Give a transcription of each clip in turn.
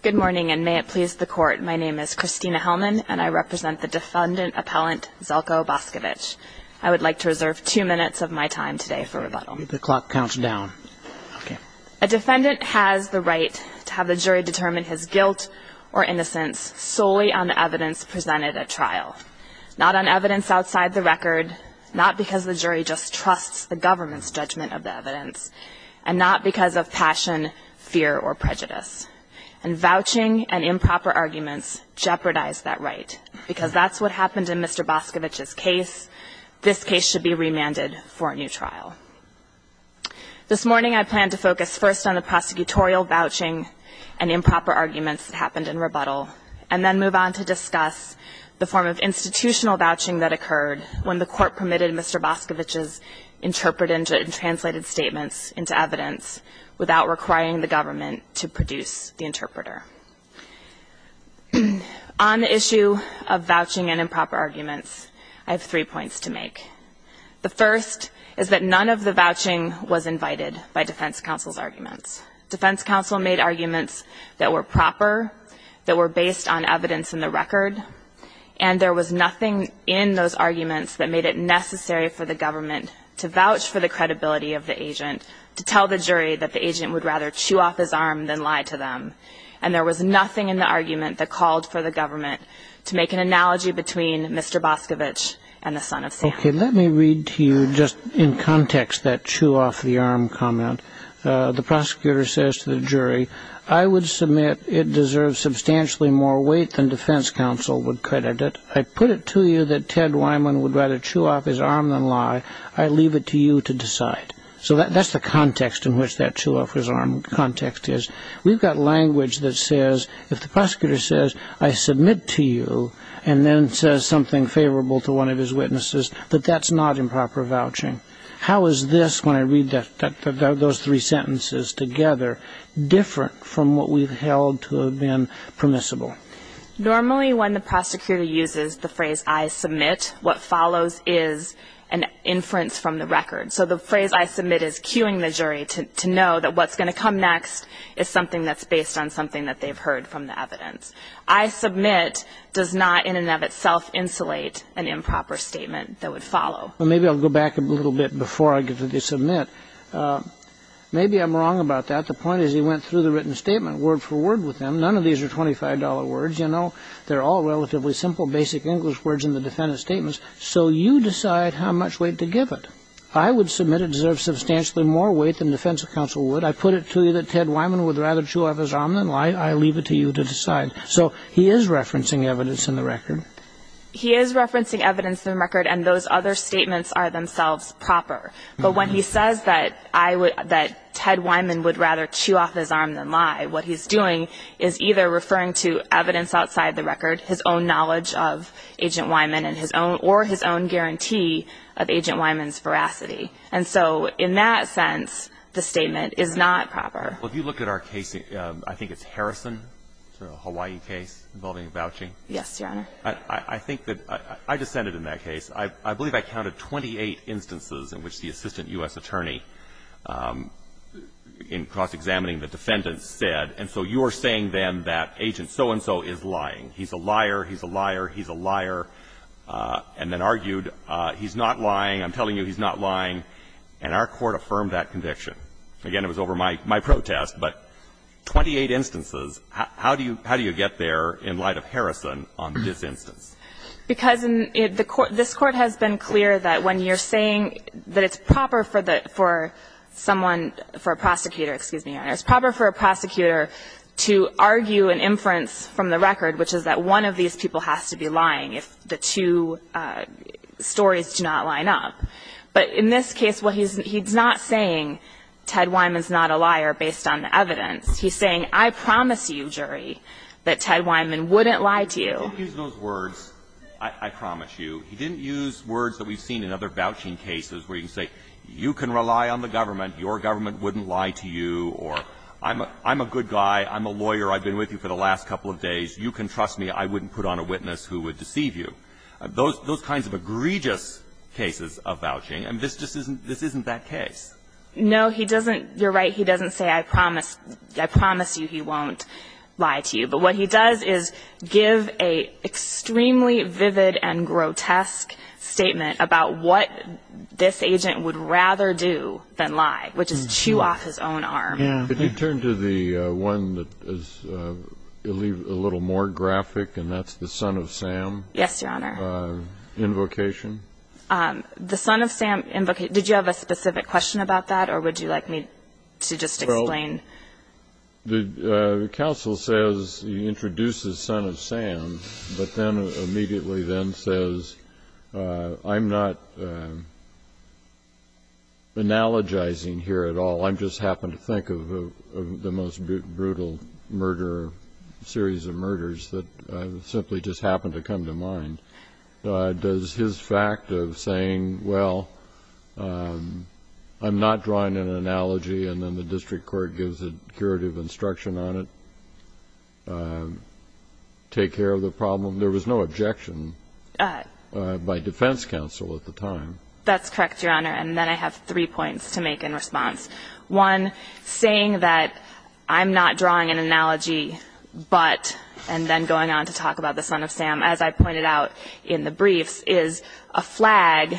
Good morning, and may it please the Court, my name is Christina Hellman, and I represent the defendant-appellant Zeljko Boskovic. I would like to reserve two minutes of my time today for rebuttal. The clock counts down. A defendant has the right to have the jury determine his guilt or innocence solely on the evidence presented at trial, not on evidence outside the record, not because the jury just trusts the government's judgment of the evidence, and not because of passion, fear, or prejudice. And vouching and improper arguments jeopardize that right, because that's what happened in Mr. Boskovic's case. This case should be remanded for a new trial. This morning I plan to focus first on the prosecutorial vouching and improper arguments that happened in rebuttal, and then move on to discuss the form of institutional vouching that occurred when the Court permitted Mr. Boskovic's interpreted and translated statements into evidence without requiring the government to produce the interpreter. On the issue of vouching and improper arguments, I have three points to make. The first is that none of the vouching was invited by defense counsel's arguments. Defense counsel made arguments that were proper, that were based on evidence in the record, and there was nothing in those arguments that made it necessary for the government to vouch for the credibility of the agent, to tell the jury that the agent would rather chew off his arm than lie to them. And there was nothing in the argument that called for the government to make an analogy between Mr. Boskovic and the son of Sam. Okay. Let me read to you just in context that chew-off-the-arm comment. The prosecutor says to the jury, I would submit it deserves substantially more weight than defense counsel would credit it. I put it to you that Ted Wyman would rather chew off his arm than lie. I leave it to you to decide. So that's the context in which that chew-off-his-arm context is. We've got language that says, if the prosecutor says, I submit to you, and then says something favorable to one of his witnesses, that that's not improper vouching. How is this, when I read those three sentences together, different from what we've held to have been permissible? Normally, when the prosecutor uses the phrase, I submit, what follows is an inference from the record. So the phrase, I submit, is cueing the jury to know that what's going to come next is something that's based on something that they've heard from the evidence. I submit does not in and of itself insulate an improper statement that would follow. Well, maybe I'll go back a little bit before I get to the submit. Maybe I'm wrong about that. The point is he went through the written statement word for word with them. None of these are $25 words, you know. They're all relatively simple basic English words in the defendant's statements. So you decide how much weight to give it. I would submit it deserves substantially more weight than defense counsel would. I put it to you that Ted Wyman would rather chew off his arm than lie. I leave it to you to decide. So he is referencing evidence in the record. He is referencing evidence in the record, and those other statements are themselves proper. But when he says that I would – that Ted Wyman would rather chew off his arm than lie, what he's doing is either referring to evidence outside the record, his own knowledge of Agent Wyman and his own – or his own guarantee of Agent Wyman's veracity. And so in that sense, the statement is not proper. Well, if you look at our case, I think it's Harrison, a Hawaii case involving vouching. Yes, Your Honor. I think that – I dissented in that case. I believe I counted 28 instances in which the assistant U.S. attorney in cross-examining the defendant said, and so you're saying then that Agent so-and-so is lying. He's a liar. He's a liar. He's a liar. And then argued, he's not lying. I'm telling you he's not lying. And our court affirmed that conviction. Again, it was over my protest. But 28 instances, how do you – how do you get there in light of Harrison on this instance? Because in the court – this Court has been clear that when you're saying that it's proper for the – for someone – for a prosecutor, excuse me, Your Honor, it's proper for a prosecutor to argue an inference from the record, which is that one of these people has to be lying if the two stories do not line up. But in this case, what he's – he's not saying Ted Wyman's not a liar based on the evidence. He's saying, I promise you, jury, that Ted Wyman wouldn't lie to you. He didn't use those words, I promise you. He didn't use words that we've seen in other vouching cases where you can say, you can rely on the government, your government wouldn't lie to you, or I'm a good guy, I'm a lawyer, I've been with you for the last couple of days, you can trust me, I wouldn't put on a witness who would deceive you. Those – those kinds of egregious cases of vouching, and this just isn't – this isn't that case. No, he doesn't – you're right, he doesn't say, I promise – I promise you he won't lie to you. But what he does is give a extremely vivid and grotesque statement about what this agent would rather do than lie, which is chew off his own arm. Yeah. Could you turn to the one that is a little more graphic, and that's the son of Sam? Yes, Your Honor. Invocation? The son of Sam – did you have a specific question about that, or would you like me to just explain? Well, the counsel says he introduces son of Sam, but then immediately then says, I'm not analogizing here at all, I just happen to think of the most brutal murder or series of murders that simply just happen to come to mind. Does his fact of saying, well, I'm not drawing an analogy, and then the district court gives a curative instruction on it, take care of the problem? There was no objection by defense counsel at the time. That's correct, Your Honor, and then I have three points to make in response. One, saying that I'm not drawing an analogy, but – and then going on to talk about the son of Sam, as I pointed out in the briefs – is a flag.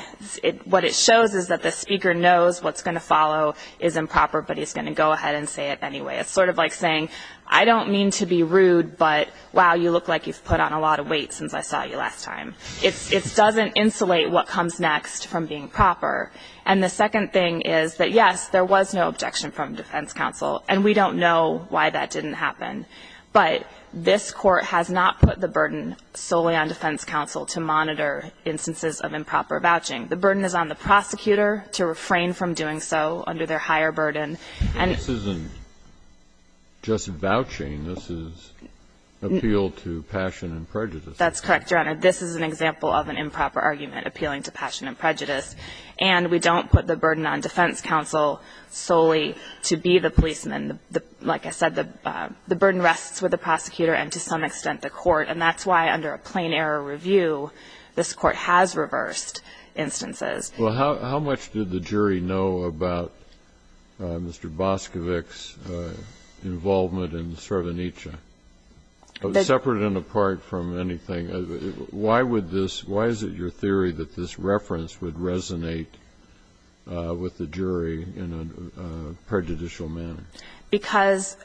What it shows is that the speaker knows what's going to follow is improper, but he's going to go ahead and say it anyway. It's sort of like saying, I don't mean to be rude, but, wow, you look like you've put on a lot of weight since I saw you last time. It doesn't insulate what comes next from being proper. And the second thing is that, yes, there was no objection from defense counsel, and we don't know why that didn't happen. But this Court has not put the burden solely on defense counsel to monitor instances of improper vouching. The burden is on the prosecutor to refrain from doing so under their higher burden. And – But this isn't just vouching. This is appeal to passion and prejudice. That's correct, Your Honor. This is an example of an improper argument appealing to passion and prejudice. And we don't put the burden on defense counsel solely to be the policeman. Like I said, the burden rests with the prosecutor and, to some extent, the court. And that's why, under a plain error review, this Court has reversed instances. Well, how much did the jury know about Mr. Boscovich's involvement in the Srebrenica? Separate and apart from anything, why would this – why is it your theory that this doesn't resonate with the jury in a prejudicial manner? Because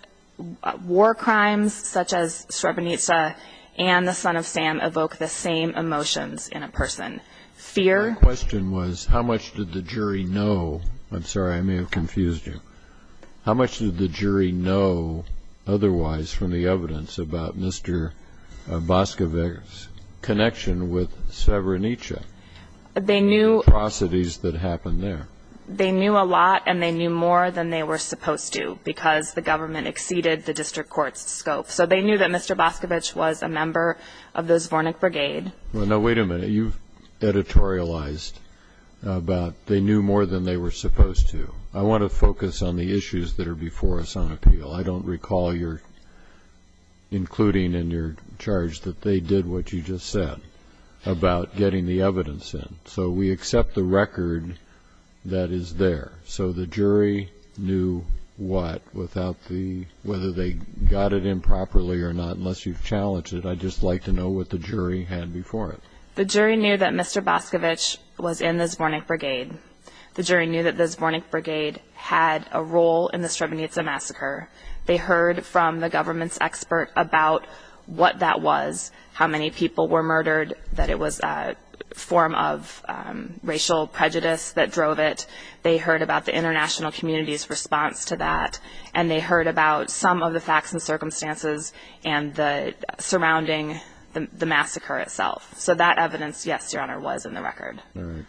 war crimes such as Srebrenica and the Son of Sam evoke the same emotions in a person. Fear – My question was, how much did the jury know – I'm sorry, I may have confused you. How much did the jury know otherwise from the evidence about Mr. Boscovich's connection with Srebrenica? They knew – The atrocities that happened there. They knew a lot, and they knew more than they were supposed to, because the government exceeded the district court's scope. So they knew that Mr. Boscovich was a member of the Zvornik Brigade. Well, now, wait a minute. You've editorialized about they knew more than they were supposed to. I want to focus on the issues that are before us on appeal. I don't recall your – including in your charge that they did what you just said about getting the evidence in. So we accept the record that is there. So the jury knew what without the – whether they got it in properly or not, unless you've challenged it. I'd just like to know what the jury had before it. The jury knew that Mr. Boscovich was in the Zvornik Brigade. The jury knew that the Zvornik Brigade had a role in the Srebrenica massacre. They heard from the government's expert about what that was, how many people were murdered, that it was a form of racial prejudice that drove it. They heard about the international community's response to that, and they heard about some of the facts and circumstances surrounding the massacre itself. So that evidence, yes, Your Honor, was in the record. All right.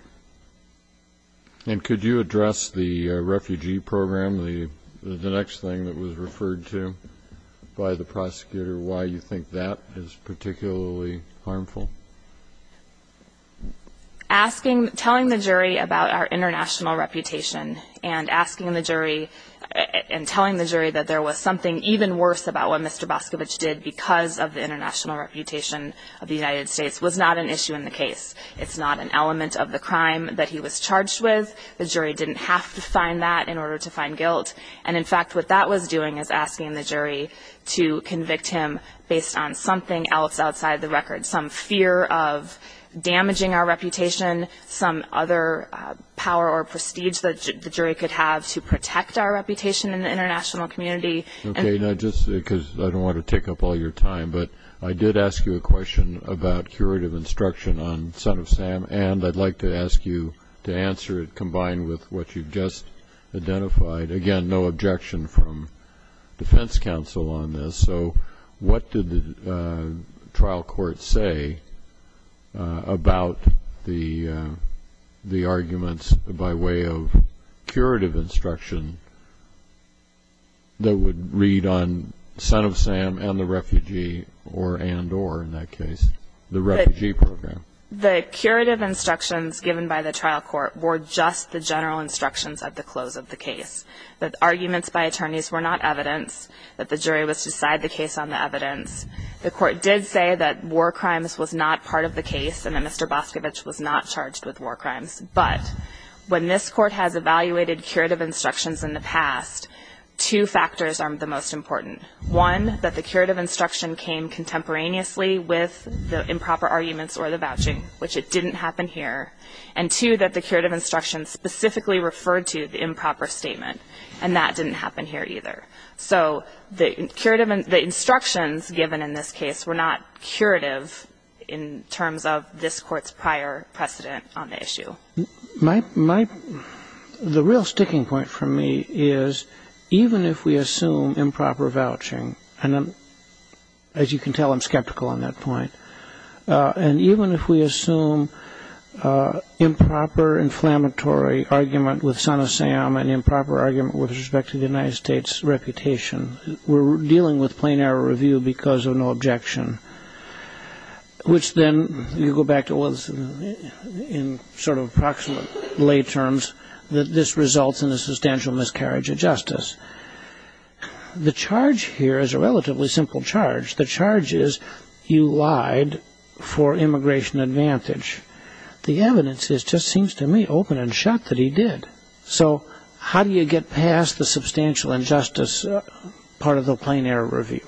And could you address the refugee program, the next thing that was referred to by the prosecutor, why you think that is particularly harmful? Asking – telling the jury about our international reputation and asking the jury and telling the jury that there was something even worse about what Mr. Boscovich did because of the international reputation of the United States was not an issue in the case. It's not an element of the crime that he was charged with. The jury didn't have to find that in order to find guilt. And, in fact, what that was doing is asking the jury to convict him based on something else outside the record, some fear of damaging our reputation, some other power or prestige that the jury could have to protect our reputation in the international community. Okay. Now, just because I don't want to take up all your time, but I did ask you a question about curative instruction on Son of Sam, and I'd like to ask you to answer it combined with what you just identified. Again, no objection from defense counsel on this. So what did the trial court say about the arguments by way of curative instruction that would read on Son of Sam and the refugee, or and or in that case, the refugee program? The curative instructions given by the trial court were just the general instructions at the close of the case. The arguments by attorneys were not evidence. The jury was to decide the case on the evidence. The court did say that war crimes was not part of the case and that Mr. Boscovich was not charged with war crimes. But when this court has evaluated curative instructions in the past, two factors are the most important. One, that the curative instruction came contemporaneously with the improper arguments or the vouching, which it didn't happen here. And two, that the curative instructions specifically referred to the improper statement, and that didn't happen here either. So the instructions given in this case were not curative in terms of this Court's prior precedent on the issue. The real sticking point for me is even if we assume improper vouching, and as you can tell, I'm skeptical on that point, and even if we assume improper inflammatory argument with Son of Sam and improper argument with respect to the United States' reputation, we're dealing with plain error review because of no objection, which then you go back to in sort of approximate lay terms that this results in a substantial miscarriage of justice. The charge here is a relatively simple charge. The charge is you lied for immigration advantage. The evidence just seems to me open and shut that he did. So how do you get past the substantial injustice part of the plain error review?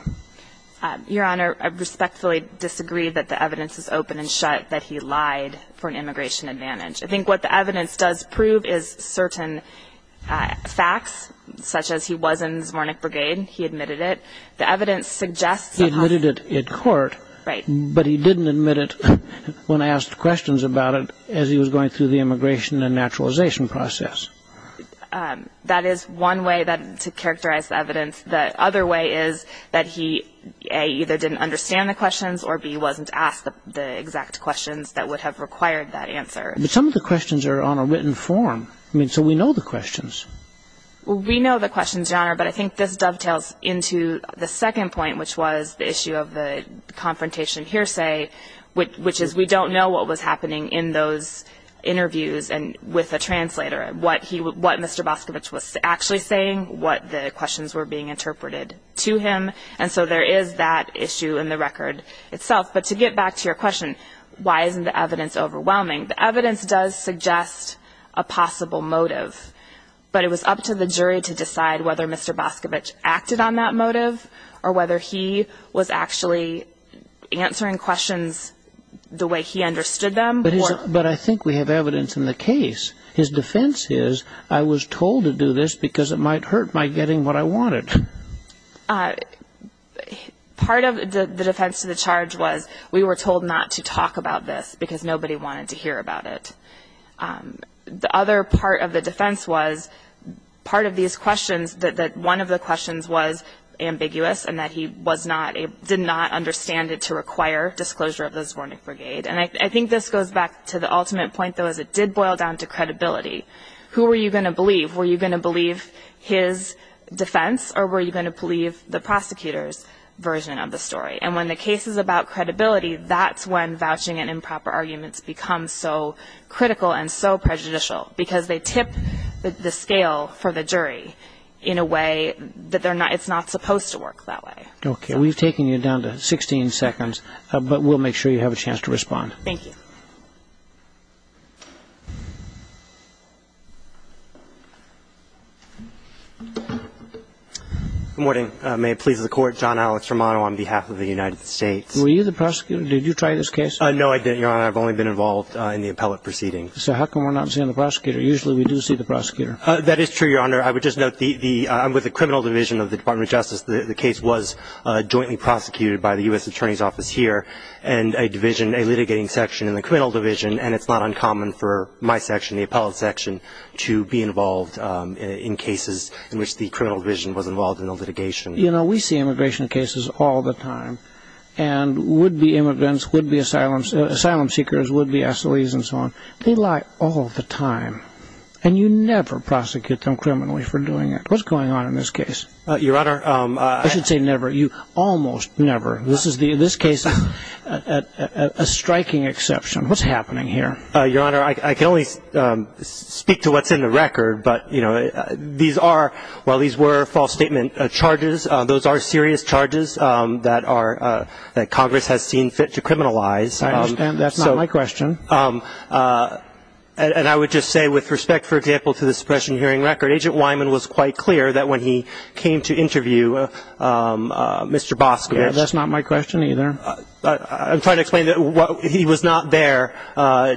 Your Honor, I respectfully disagree that the evidence is open and shut that he lied for an immigration advantage. I think what the evidence does prove is certain facts, such as he was in Zvornik Brigade, he admitted it. He admitted it in court, but he didn't admit it when asked questions about it as he was going through the immigration and naturalization process. That is one way to characterize the evidence. The other way is that he, A, either didn't understand the questions or, B, wasn't asked the exact questions that would have required that answer. But some of the questions are on a written form. I mean, so we know the questions. We know the questions, Your Honor, but I think this dovetails into the second point, which was the issue of the confrontation hearsay, which is we don't know what was happening in those interviews and with the translator, what Mr. Boscovich was actually saying, what the questions were being interpreted to him. And so there is that issue in the record itself. But to get back to your question, why isn't the evidence overwhelming, the evidence does suggest a possible motive, but it was up to the jury to decide whether Mr. Boscovich acted on that motive or whether he was actually answering questions the way he understood them. But I think we have evidence in the case. His defense is, I was told to do this because it might hurt my getting what I wanted. Part of the defense to the charge was we were told not to talk about this because nobody wanted to hear about it. The other part of the defense was part of these questions, that one of the questions was ambiguous and that he did not understand it to require disclosure of the Zvornik Brigade. And I think this goes back to the ultimate point, though, is it did boil down to credibility. Who were you going to believe? Were you going to believe his defense or were you going to believe the prosecutor's version of the story? And when the case is about credibility, that's when vouching and improper arguments become so critical and so prejudicial because they tip the scale for the jury in a way that it's not supposed to work that way. Okay. We've taken you down to 16 seconds, but we'll make sure you have a chance to respond. Thank you. Good morning. May it please the Court. John Alex Romano on behalf of the United States. Were you the prosecutor? Did you try this case? No, I didn't, Your Honor. I've only been involved in the appellate proceeding. So how come we're not seeing the prosecutor? Usually we do see the prosecutor. That is true, Your Honor. I would just note I'm with the criminal division of the Department of Justice. The case was jointly prosecuted by the U.S. Attorney's Office here and a division, a litigating section in the criminal division, and it's not uncommon for my section, the appellate section, to be involved in cases in which the criminal division was involved in a litigation. You know, we see immigration cases all the time and would-be immigrants, would-be asylum seekers, would-be assilies and so on. They lie all the time, and you never prosecute them criminally for doing it. What's going on in this case? Your Honor, I should say never. You almost never. This case is a striking exception. What's happening here? Your Honor, I can only speak to what's in the record, but, you know, these are, while these were false statement charges, those are serious charges that Congress has seen fit to criminalize. I understand. That's not my question. And I would just say with respect, for example, to the suppression hearing record, Agent Wyman was quite clear that when he came to interview Mr. Boskowitz That's not my question either. I'm trying to explain that he was not there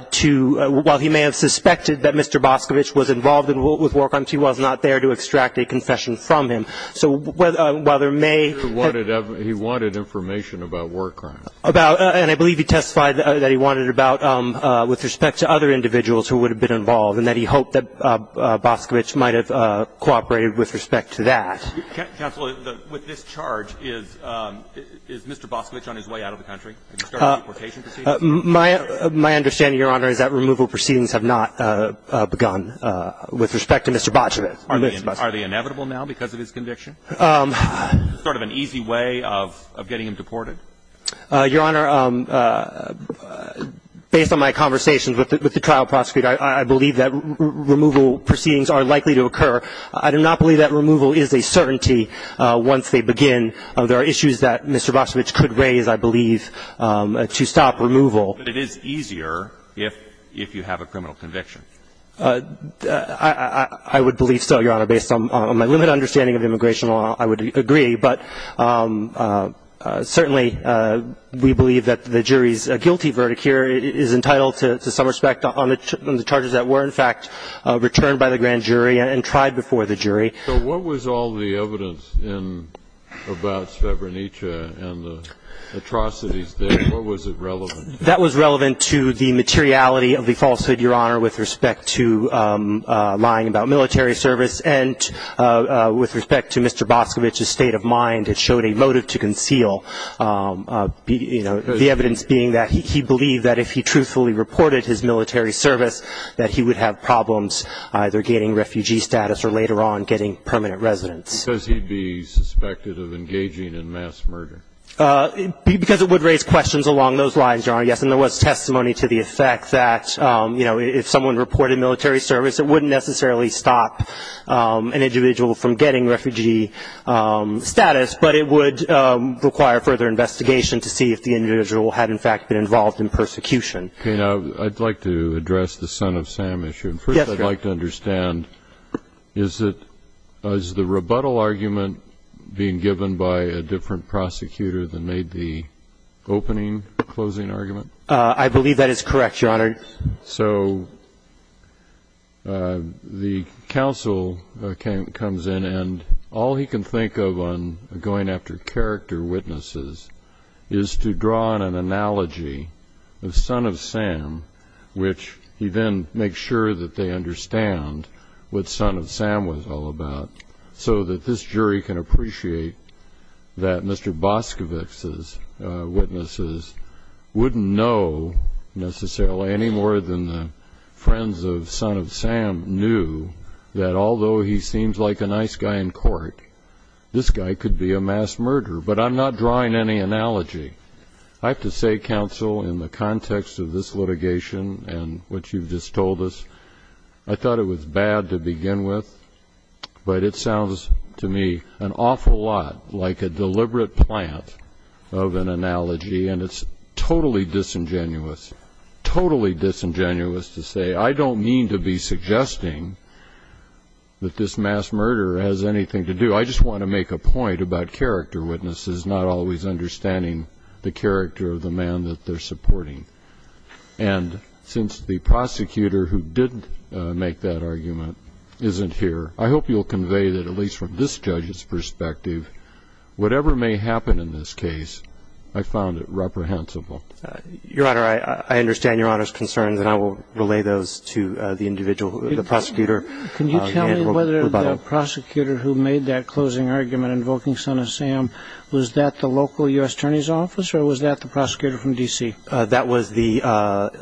to, while he may have suspected that Mr. Boskowitz was involved with war crimes, he was not there to extract a confession from him. So while there may have been He wanted information about war crimes. About, and I believe he testified that he wanted about with respect to other individuals who would have been involved and that he hoped that Boskowitz might have cooperated with respect to that. Counsel, with this charge, is Mr. Boskowitz on his way out of the country? Has he started deportation proceedings? My understanding, Your Honor, is that removal proceedings have not begun with respect to Mr. Boskowitz. Are they inevitable now because of his conviction? Sort of an easy way of getting him deported? Your Honor, based on my conversations with the trial prosecutor, I believe that removal proceedings are likely to occur. I do not believe that removal is a certainty once they begin. There are issues that Mr. Boskowitz could raise, I believe, to stop removal. But it is easier if you have a criminal conviction. I would believe so, Your Honor. Based on my limited understanding of immigration law, I would agree. But certainly we believe that the jury's guilty verdict here is entitled to some respect on the charges that were, in fact, returned by the grand jury and tried before the jury. So what was all the evidence about Srebrenica and the atrocities there? What was it relevant to? That was relevant to the materiality of the falsehood, Your Honor, with respect to lying about military service, and with respect to Mr. Boskowitz's state of mind that showed a motive to conceal, the evidence being that he believed that if he truthfully reported his military service that he would have problems either gaining refugee status or later on getting permanent residence. Because he'd be suspected of engaging in mass murder. Because it would raise questions along those lines, Your Honor, yes. And there was testimony to the effect that if someone reported military service, it wouldn't necessarily stop an individual from getting refugee status, but it would require further investigation to see if the individual had, in fact, been involved in persecution. Okay. Now, I'd like to address the Son of Sam issue. Yes, Your Honor. First, I'd like to understand, is it the rebuttal argument being given by a different prosecutor than made the opening, closing argument? I believe that is correct, Your Honor. So the counsel comes in and all he can think of on going after character witnesses is to draw on an analogy of Son of Sam, which he then makes sure that they understand what Son of Sam was all about, so that this jury can appreciate that Mr. Boskowitz's witnesses wouldn't know necessarily any more than the friends of Son of Sam knew that although he seems like a nice guy in court, this guy could be a mass murderer. But I'm not drawing any analogy. I have to say, counsel, in the context of this litigation and what you've just told us, I thought it was bad to begin with, but it sounds to me an awful lot like a deliberate plant of an analogy, and it's totally disingenuous, totally disingenuous to say, I don't mean to be suggesting that this mass murderer has anything to do. I just want to make a point about character witnesses not always understanding the character of the man that they're supporting. And since the prosecutor who did make that argument isn't here, I hope you'll convey that at least from this judge's perspective, that whatever may happen in this case, I found it reprehensible. Your Honor, I understand Your Honor's concerns, and I will relay those to the individual, the prosecutor. Can you tell me whether the prosecutor who made that closing argument invoking Son of Sam, was that the local U.S. Attorney's Office or was that the prosecutor from D.C.? That was the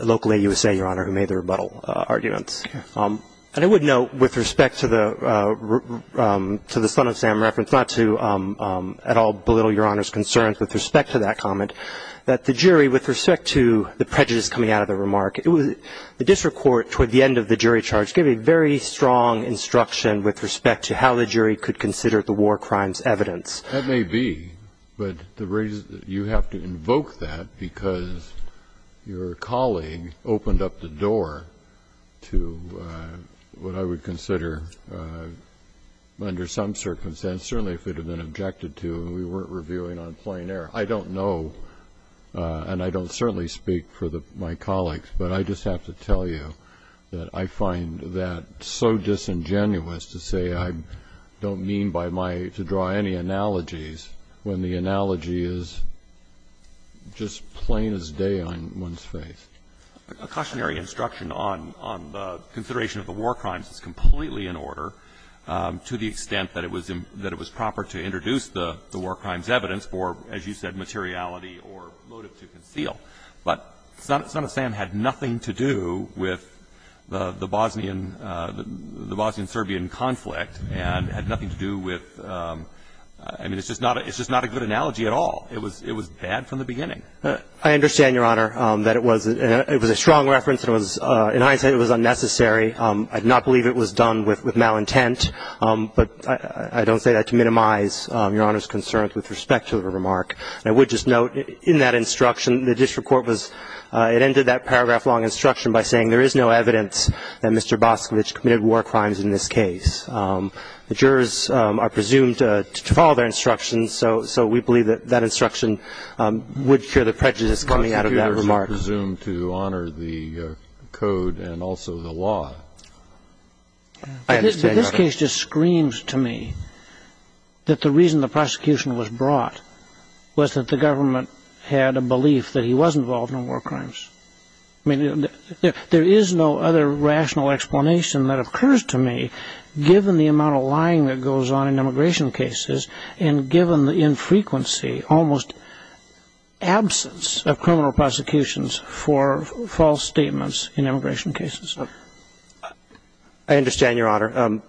local AUSA, Your Honor, who made the rebuttal arguments. And I would note, with respect to the Son of Sam reference, not to at all belittle Your Honor's concerns with respect to that comment, that the jury, with respect to the prejudice coming out of the remark, the district court, toward the end of the jury charge, gave a very strong instruction with respect to how the jury could consider the war crimes evidence. That may be, but you have to invoke that because your colleague opened up the door to what I would consider, under some circumstances, certainly if it had been objected to and we weren't reviewing on plain air. I don't know, and I don't certainly speak for my colleagues, but I just have to tell you that I find that so disingenuous to say I don't mean to draw any analogies when the analogy is just plain as day on one's face. A cautionary instruction on the consideration of the war crimes is completely in order to the extent that it was proper to introduce the war crimes evidence for, as you said, materiality or motive to conceal. But Son of Sam had nothing to do with the Bosnian-Serbian conflict and had nothing to do with, I mean, it's just not a good analogy at all. It was bad from the beginning. I understand, Your Honor, that it was a strong reference. In hindsight, it was unnecessary. I do not believe it was done with malintent, but I don't say that to minimize Your Honor's concerns with respect to the remark. I would just note in that instruction, the district court was, it ended that paragraph-long instruction by saying there is no evidence that Mr. Boscovich committed war crimes in this case. The jurors are presumed to follow their instructions, so we believe that that instruction would cure the prejudice coming out of that remark. The jurors are presumed to honor the code and also the law. I understand, Your Honor. But this case just screams to me that the reason the prosecution was brought was that the government had a belief that he was involved in war crimes. I mean, there is no other rational explanation that occurs to me, given the amount of lying that goes on in immigration cases and given the infrequency, almost absence, of criminal prosecutions for false statements in immigration cases. I understand, Your Honor.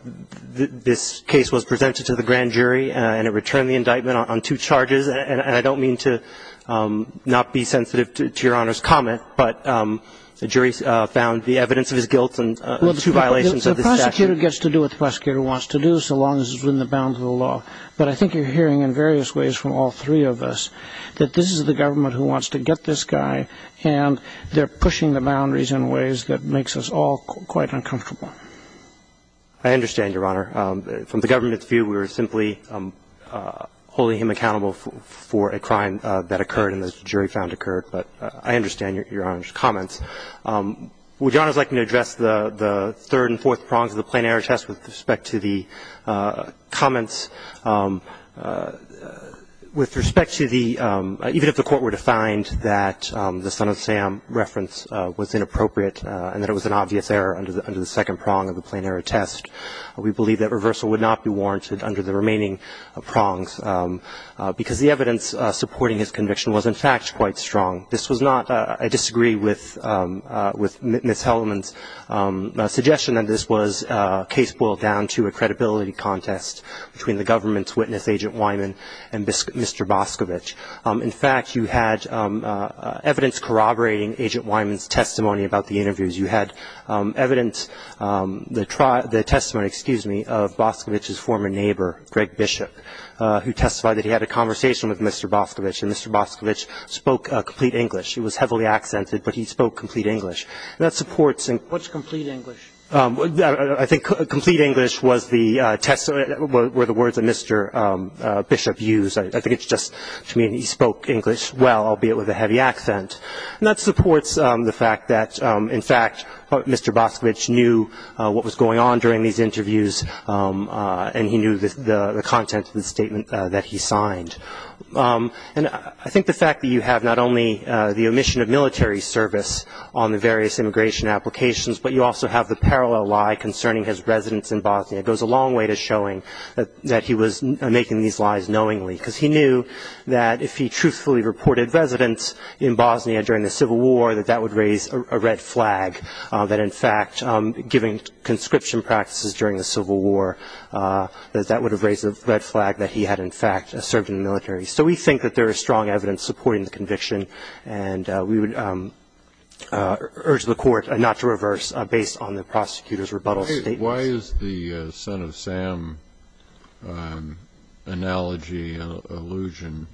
This case was presented to the grand jury and it returned the indictment on two charges, and I don't mean to not be sensitive to Your Honor's comment, but the jury found the evidence of his guilt and two violations of the statute. Well, the prosecutor gets to do what the prosecutor wants to do, so long as it's within the bounds of the law. But I think you're hearing in various ways from all three of us that this is the government who wants to get this guy, and they're pushing the boundaries in ways that makes us all quite uncomfortable. I understand, Your Honor. From the government's view, we were simply holding him accountable for a crime that occurred and the jury found occurred. But I understand Your Honor's comments. Would Your Honor's like me to address the third and fourth prongs of the plain error test with respect to the comments? With respect to the – even if the Court were to find that the Son of Sam reference was inappropriate and that it was an obvious error under the second prong of the plain error test, we believe that reversal would not be warranted under the remaining prongs, because the evidence supporting his conviction was, in fact, quite strong. This was not – I disagree with Ms. Hellman's suggestion that this was a case boiled down to a credibility contest between the government's witness, Agent Wyman, and Mr. Boscovich. In fact, you had evidence corroborating Agent Wyman's testimony about the interviews. You had evidence – the testimony, excuse me, of Boscovich's former neighbor, Greg Bishop, who testified that he had a conversation with Mr. Boscovich, and Mr. Boscovich spoke complete English. He was heavily accented, but he spoke complete English. And that supports – What's complete English? I think complete English was the test – were the words that Mr. Bishop used. I think it's just to mean he spoke English well, albeit with a heavy accent. And that supports the fact that, in fact, Mr. Boscovich knew what was going on during these interviews, and he knew the content of the statement that he signed. And I think the fact that you have not only the omission of military service on the various immigration applications, but you also have the parallel lie concerning his residence in Bosnia goes a long way to showing that he was making these lies knowingly, because he knew that if he truthfully reported residence in Bosnia during the Civil War, that that would raise a red flag, that, in fact, giving conscription practices during the Civil War, that that would have raised a red flag that he had, in fact, served in the military. So we think that there is strong evidence supporting the conviction, and we would urge the Court not to reverse based on the prosecutor's rebuttal statement. Why is the son-of-Sam analogy an illusion,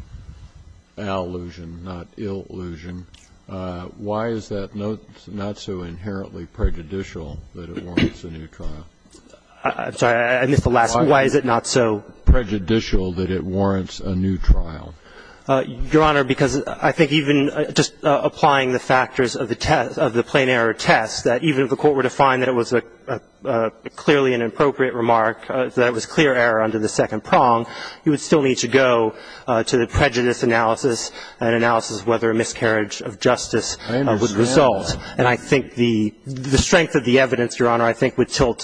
allusion, not illusion? Why is that not so inherently prejudicial that it warrants a new trial? I'm sorry. I missed the last part. Why is it not so prejudicial that it warrants a new trial? Your Honor, because I think even just applying the factors of the plain error test, that even if the Court were to find that it was clearly an appropriate remark, that it was clear error under the second prong, you would still need to go to the prejudice analysis, an analysis of whether a miscarriage of justice would result. And I think the strength of the evidence, Your Honor, I think would tilt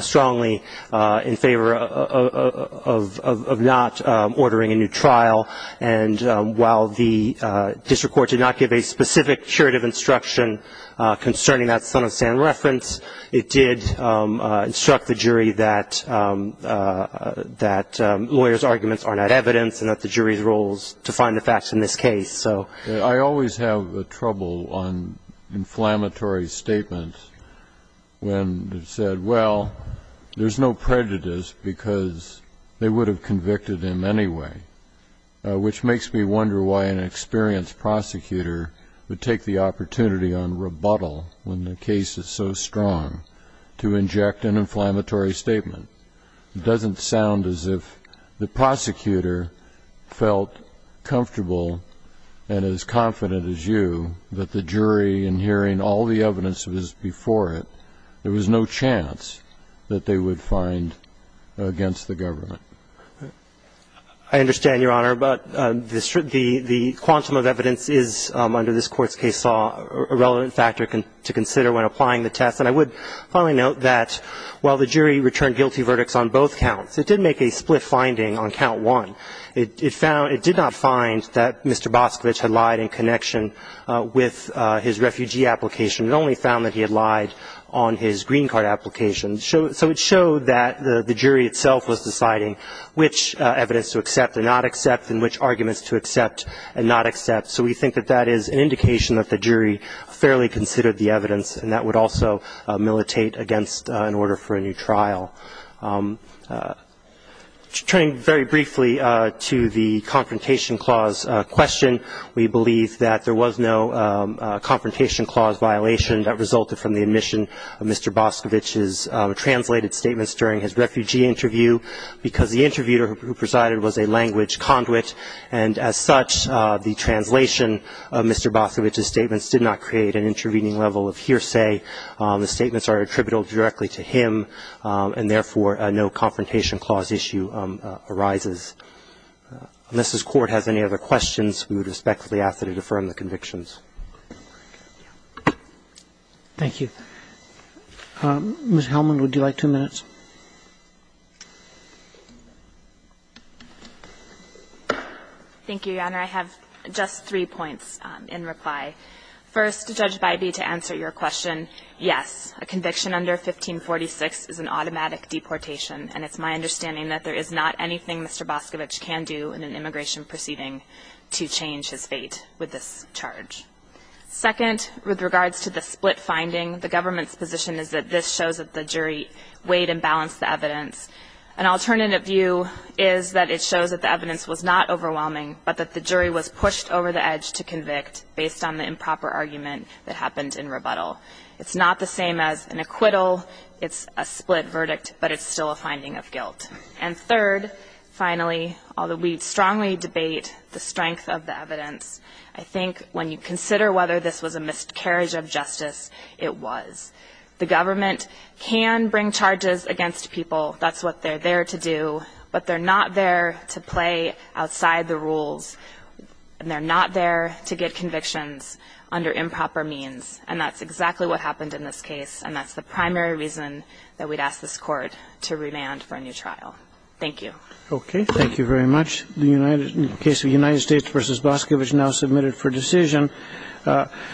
strongly in favor of not ordering a new trial. And while the district court did not give a specific curative instruction concerning that son-of-Sam reference, it did instruct the jury that lawyers' arguments are not evidence and that the jury's roles define the facts in this case. So I always have trouble on inflammatory statements when they've said, well, there's no prejudice because they would have convicted him anyway. Which makes me wonder why an experienced prosecutor would take the opportunity on rebuttal when the case is so strong to inject an inflammatory statement. It doesn't sound as if the prosecutor felt comfortable and as confident as you that the jury, in hearing all the evidence that was before it, there was no chance that they would find against the government. I understand, Your Honor. But the quantum of evidence is, under this Court's case law, a relevant factor to consider when applying the test. And I would finally note that while the jury returned guilty verdicts on both counts, it did make a split finding on count one. It did not find that Mr. Boscovich had lied in connection with his refugee application. It only found that he had lied on his green card application. So it showed that the jury itself was deciding which evidence to accept and not accept and which arguments to accept and not accept. So we think that that is an indication that the jury fairly considered the evidence and that would also militate against an order for a new trial. Turning very briefly to the confrontation clause question, we believe that there was no confrontation clause violation that resulted from the admission of Mr. Boscovich's translated statements during his refugee interview because the interviewer who presided was a language conduit. And as such, the translation of Mr. Boscovich's statements did not create an intervening level of hearsay. The statements are attributable directly to him, and therefore no confrontation clause issue arises. Unless this Court has any other questions, we would respectfully ask that it affirm the convictions. Thank you. Ms. Hellman, would you like two minutes? Thank you, Your Honor. I have just three points in reply. First, Judge Bybee, to answer your question, yes, a conviction under 1546 is an automatic deportation, and it's my understanding that there is not anything Mr. Boscovich can do in an immigration proceeding to change his fate with this charge. Second, with regards to the split finding, the government's position is that this shows that the jury weighed and balanced the evidence. An alternative view is that it shows that the evidence was not overwhelming, but that the jury was pushed over the edge to convict based on the improper argument that happened in rebuttal. It's not the same as an acquittal. It's a split verdict, but it's still a finding of guilt. And third, finally, although we strongly debate the strength of the evidence, I think when you consider whether this was a miscarriage of justice, it was. The government can bring charges against people. That's what they're there to do. But they're not there to play outside the rules, and they're not there to get convictions under improper means. And that's exactly what happened in this case, and that's the primary reason that we'd ask this Court to remand for a new trial. Thank you. Okay. Thank you very much. The case of United States v. Boscovich now submitted for decision.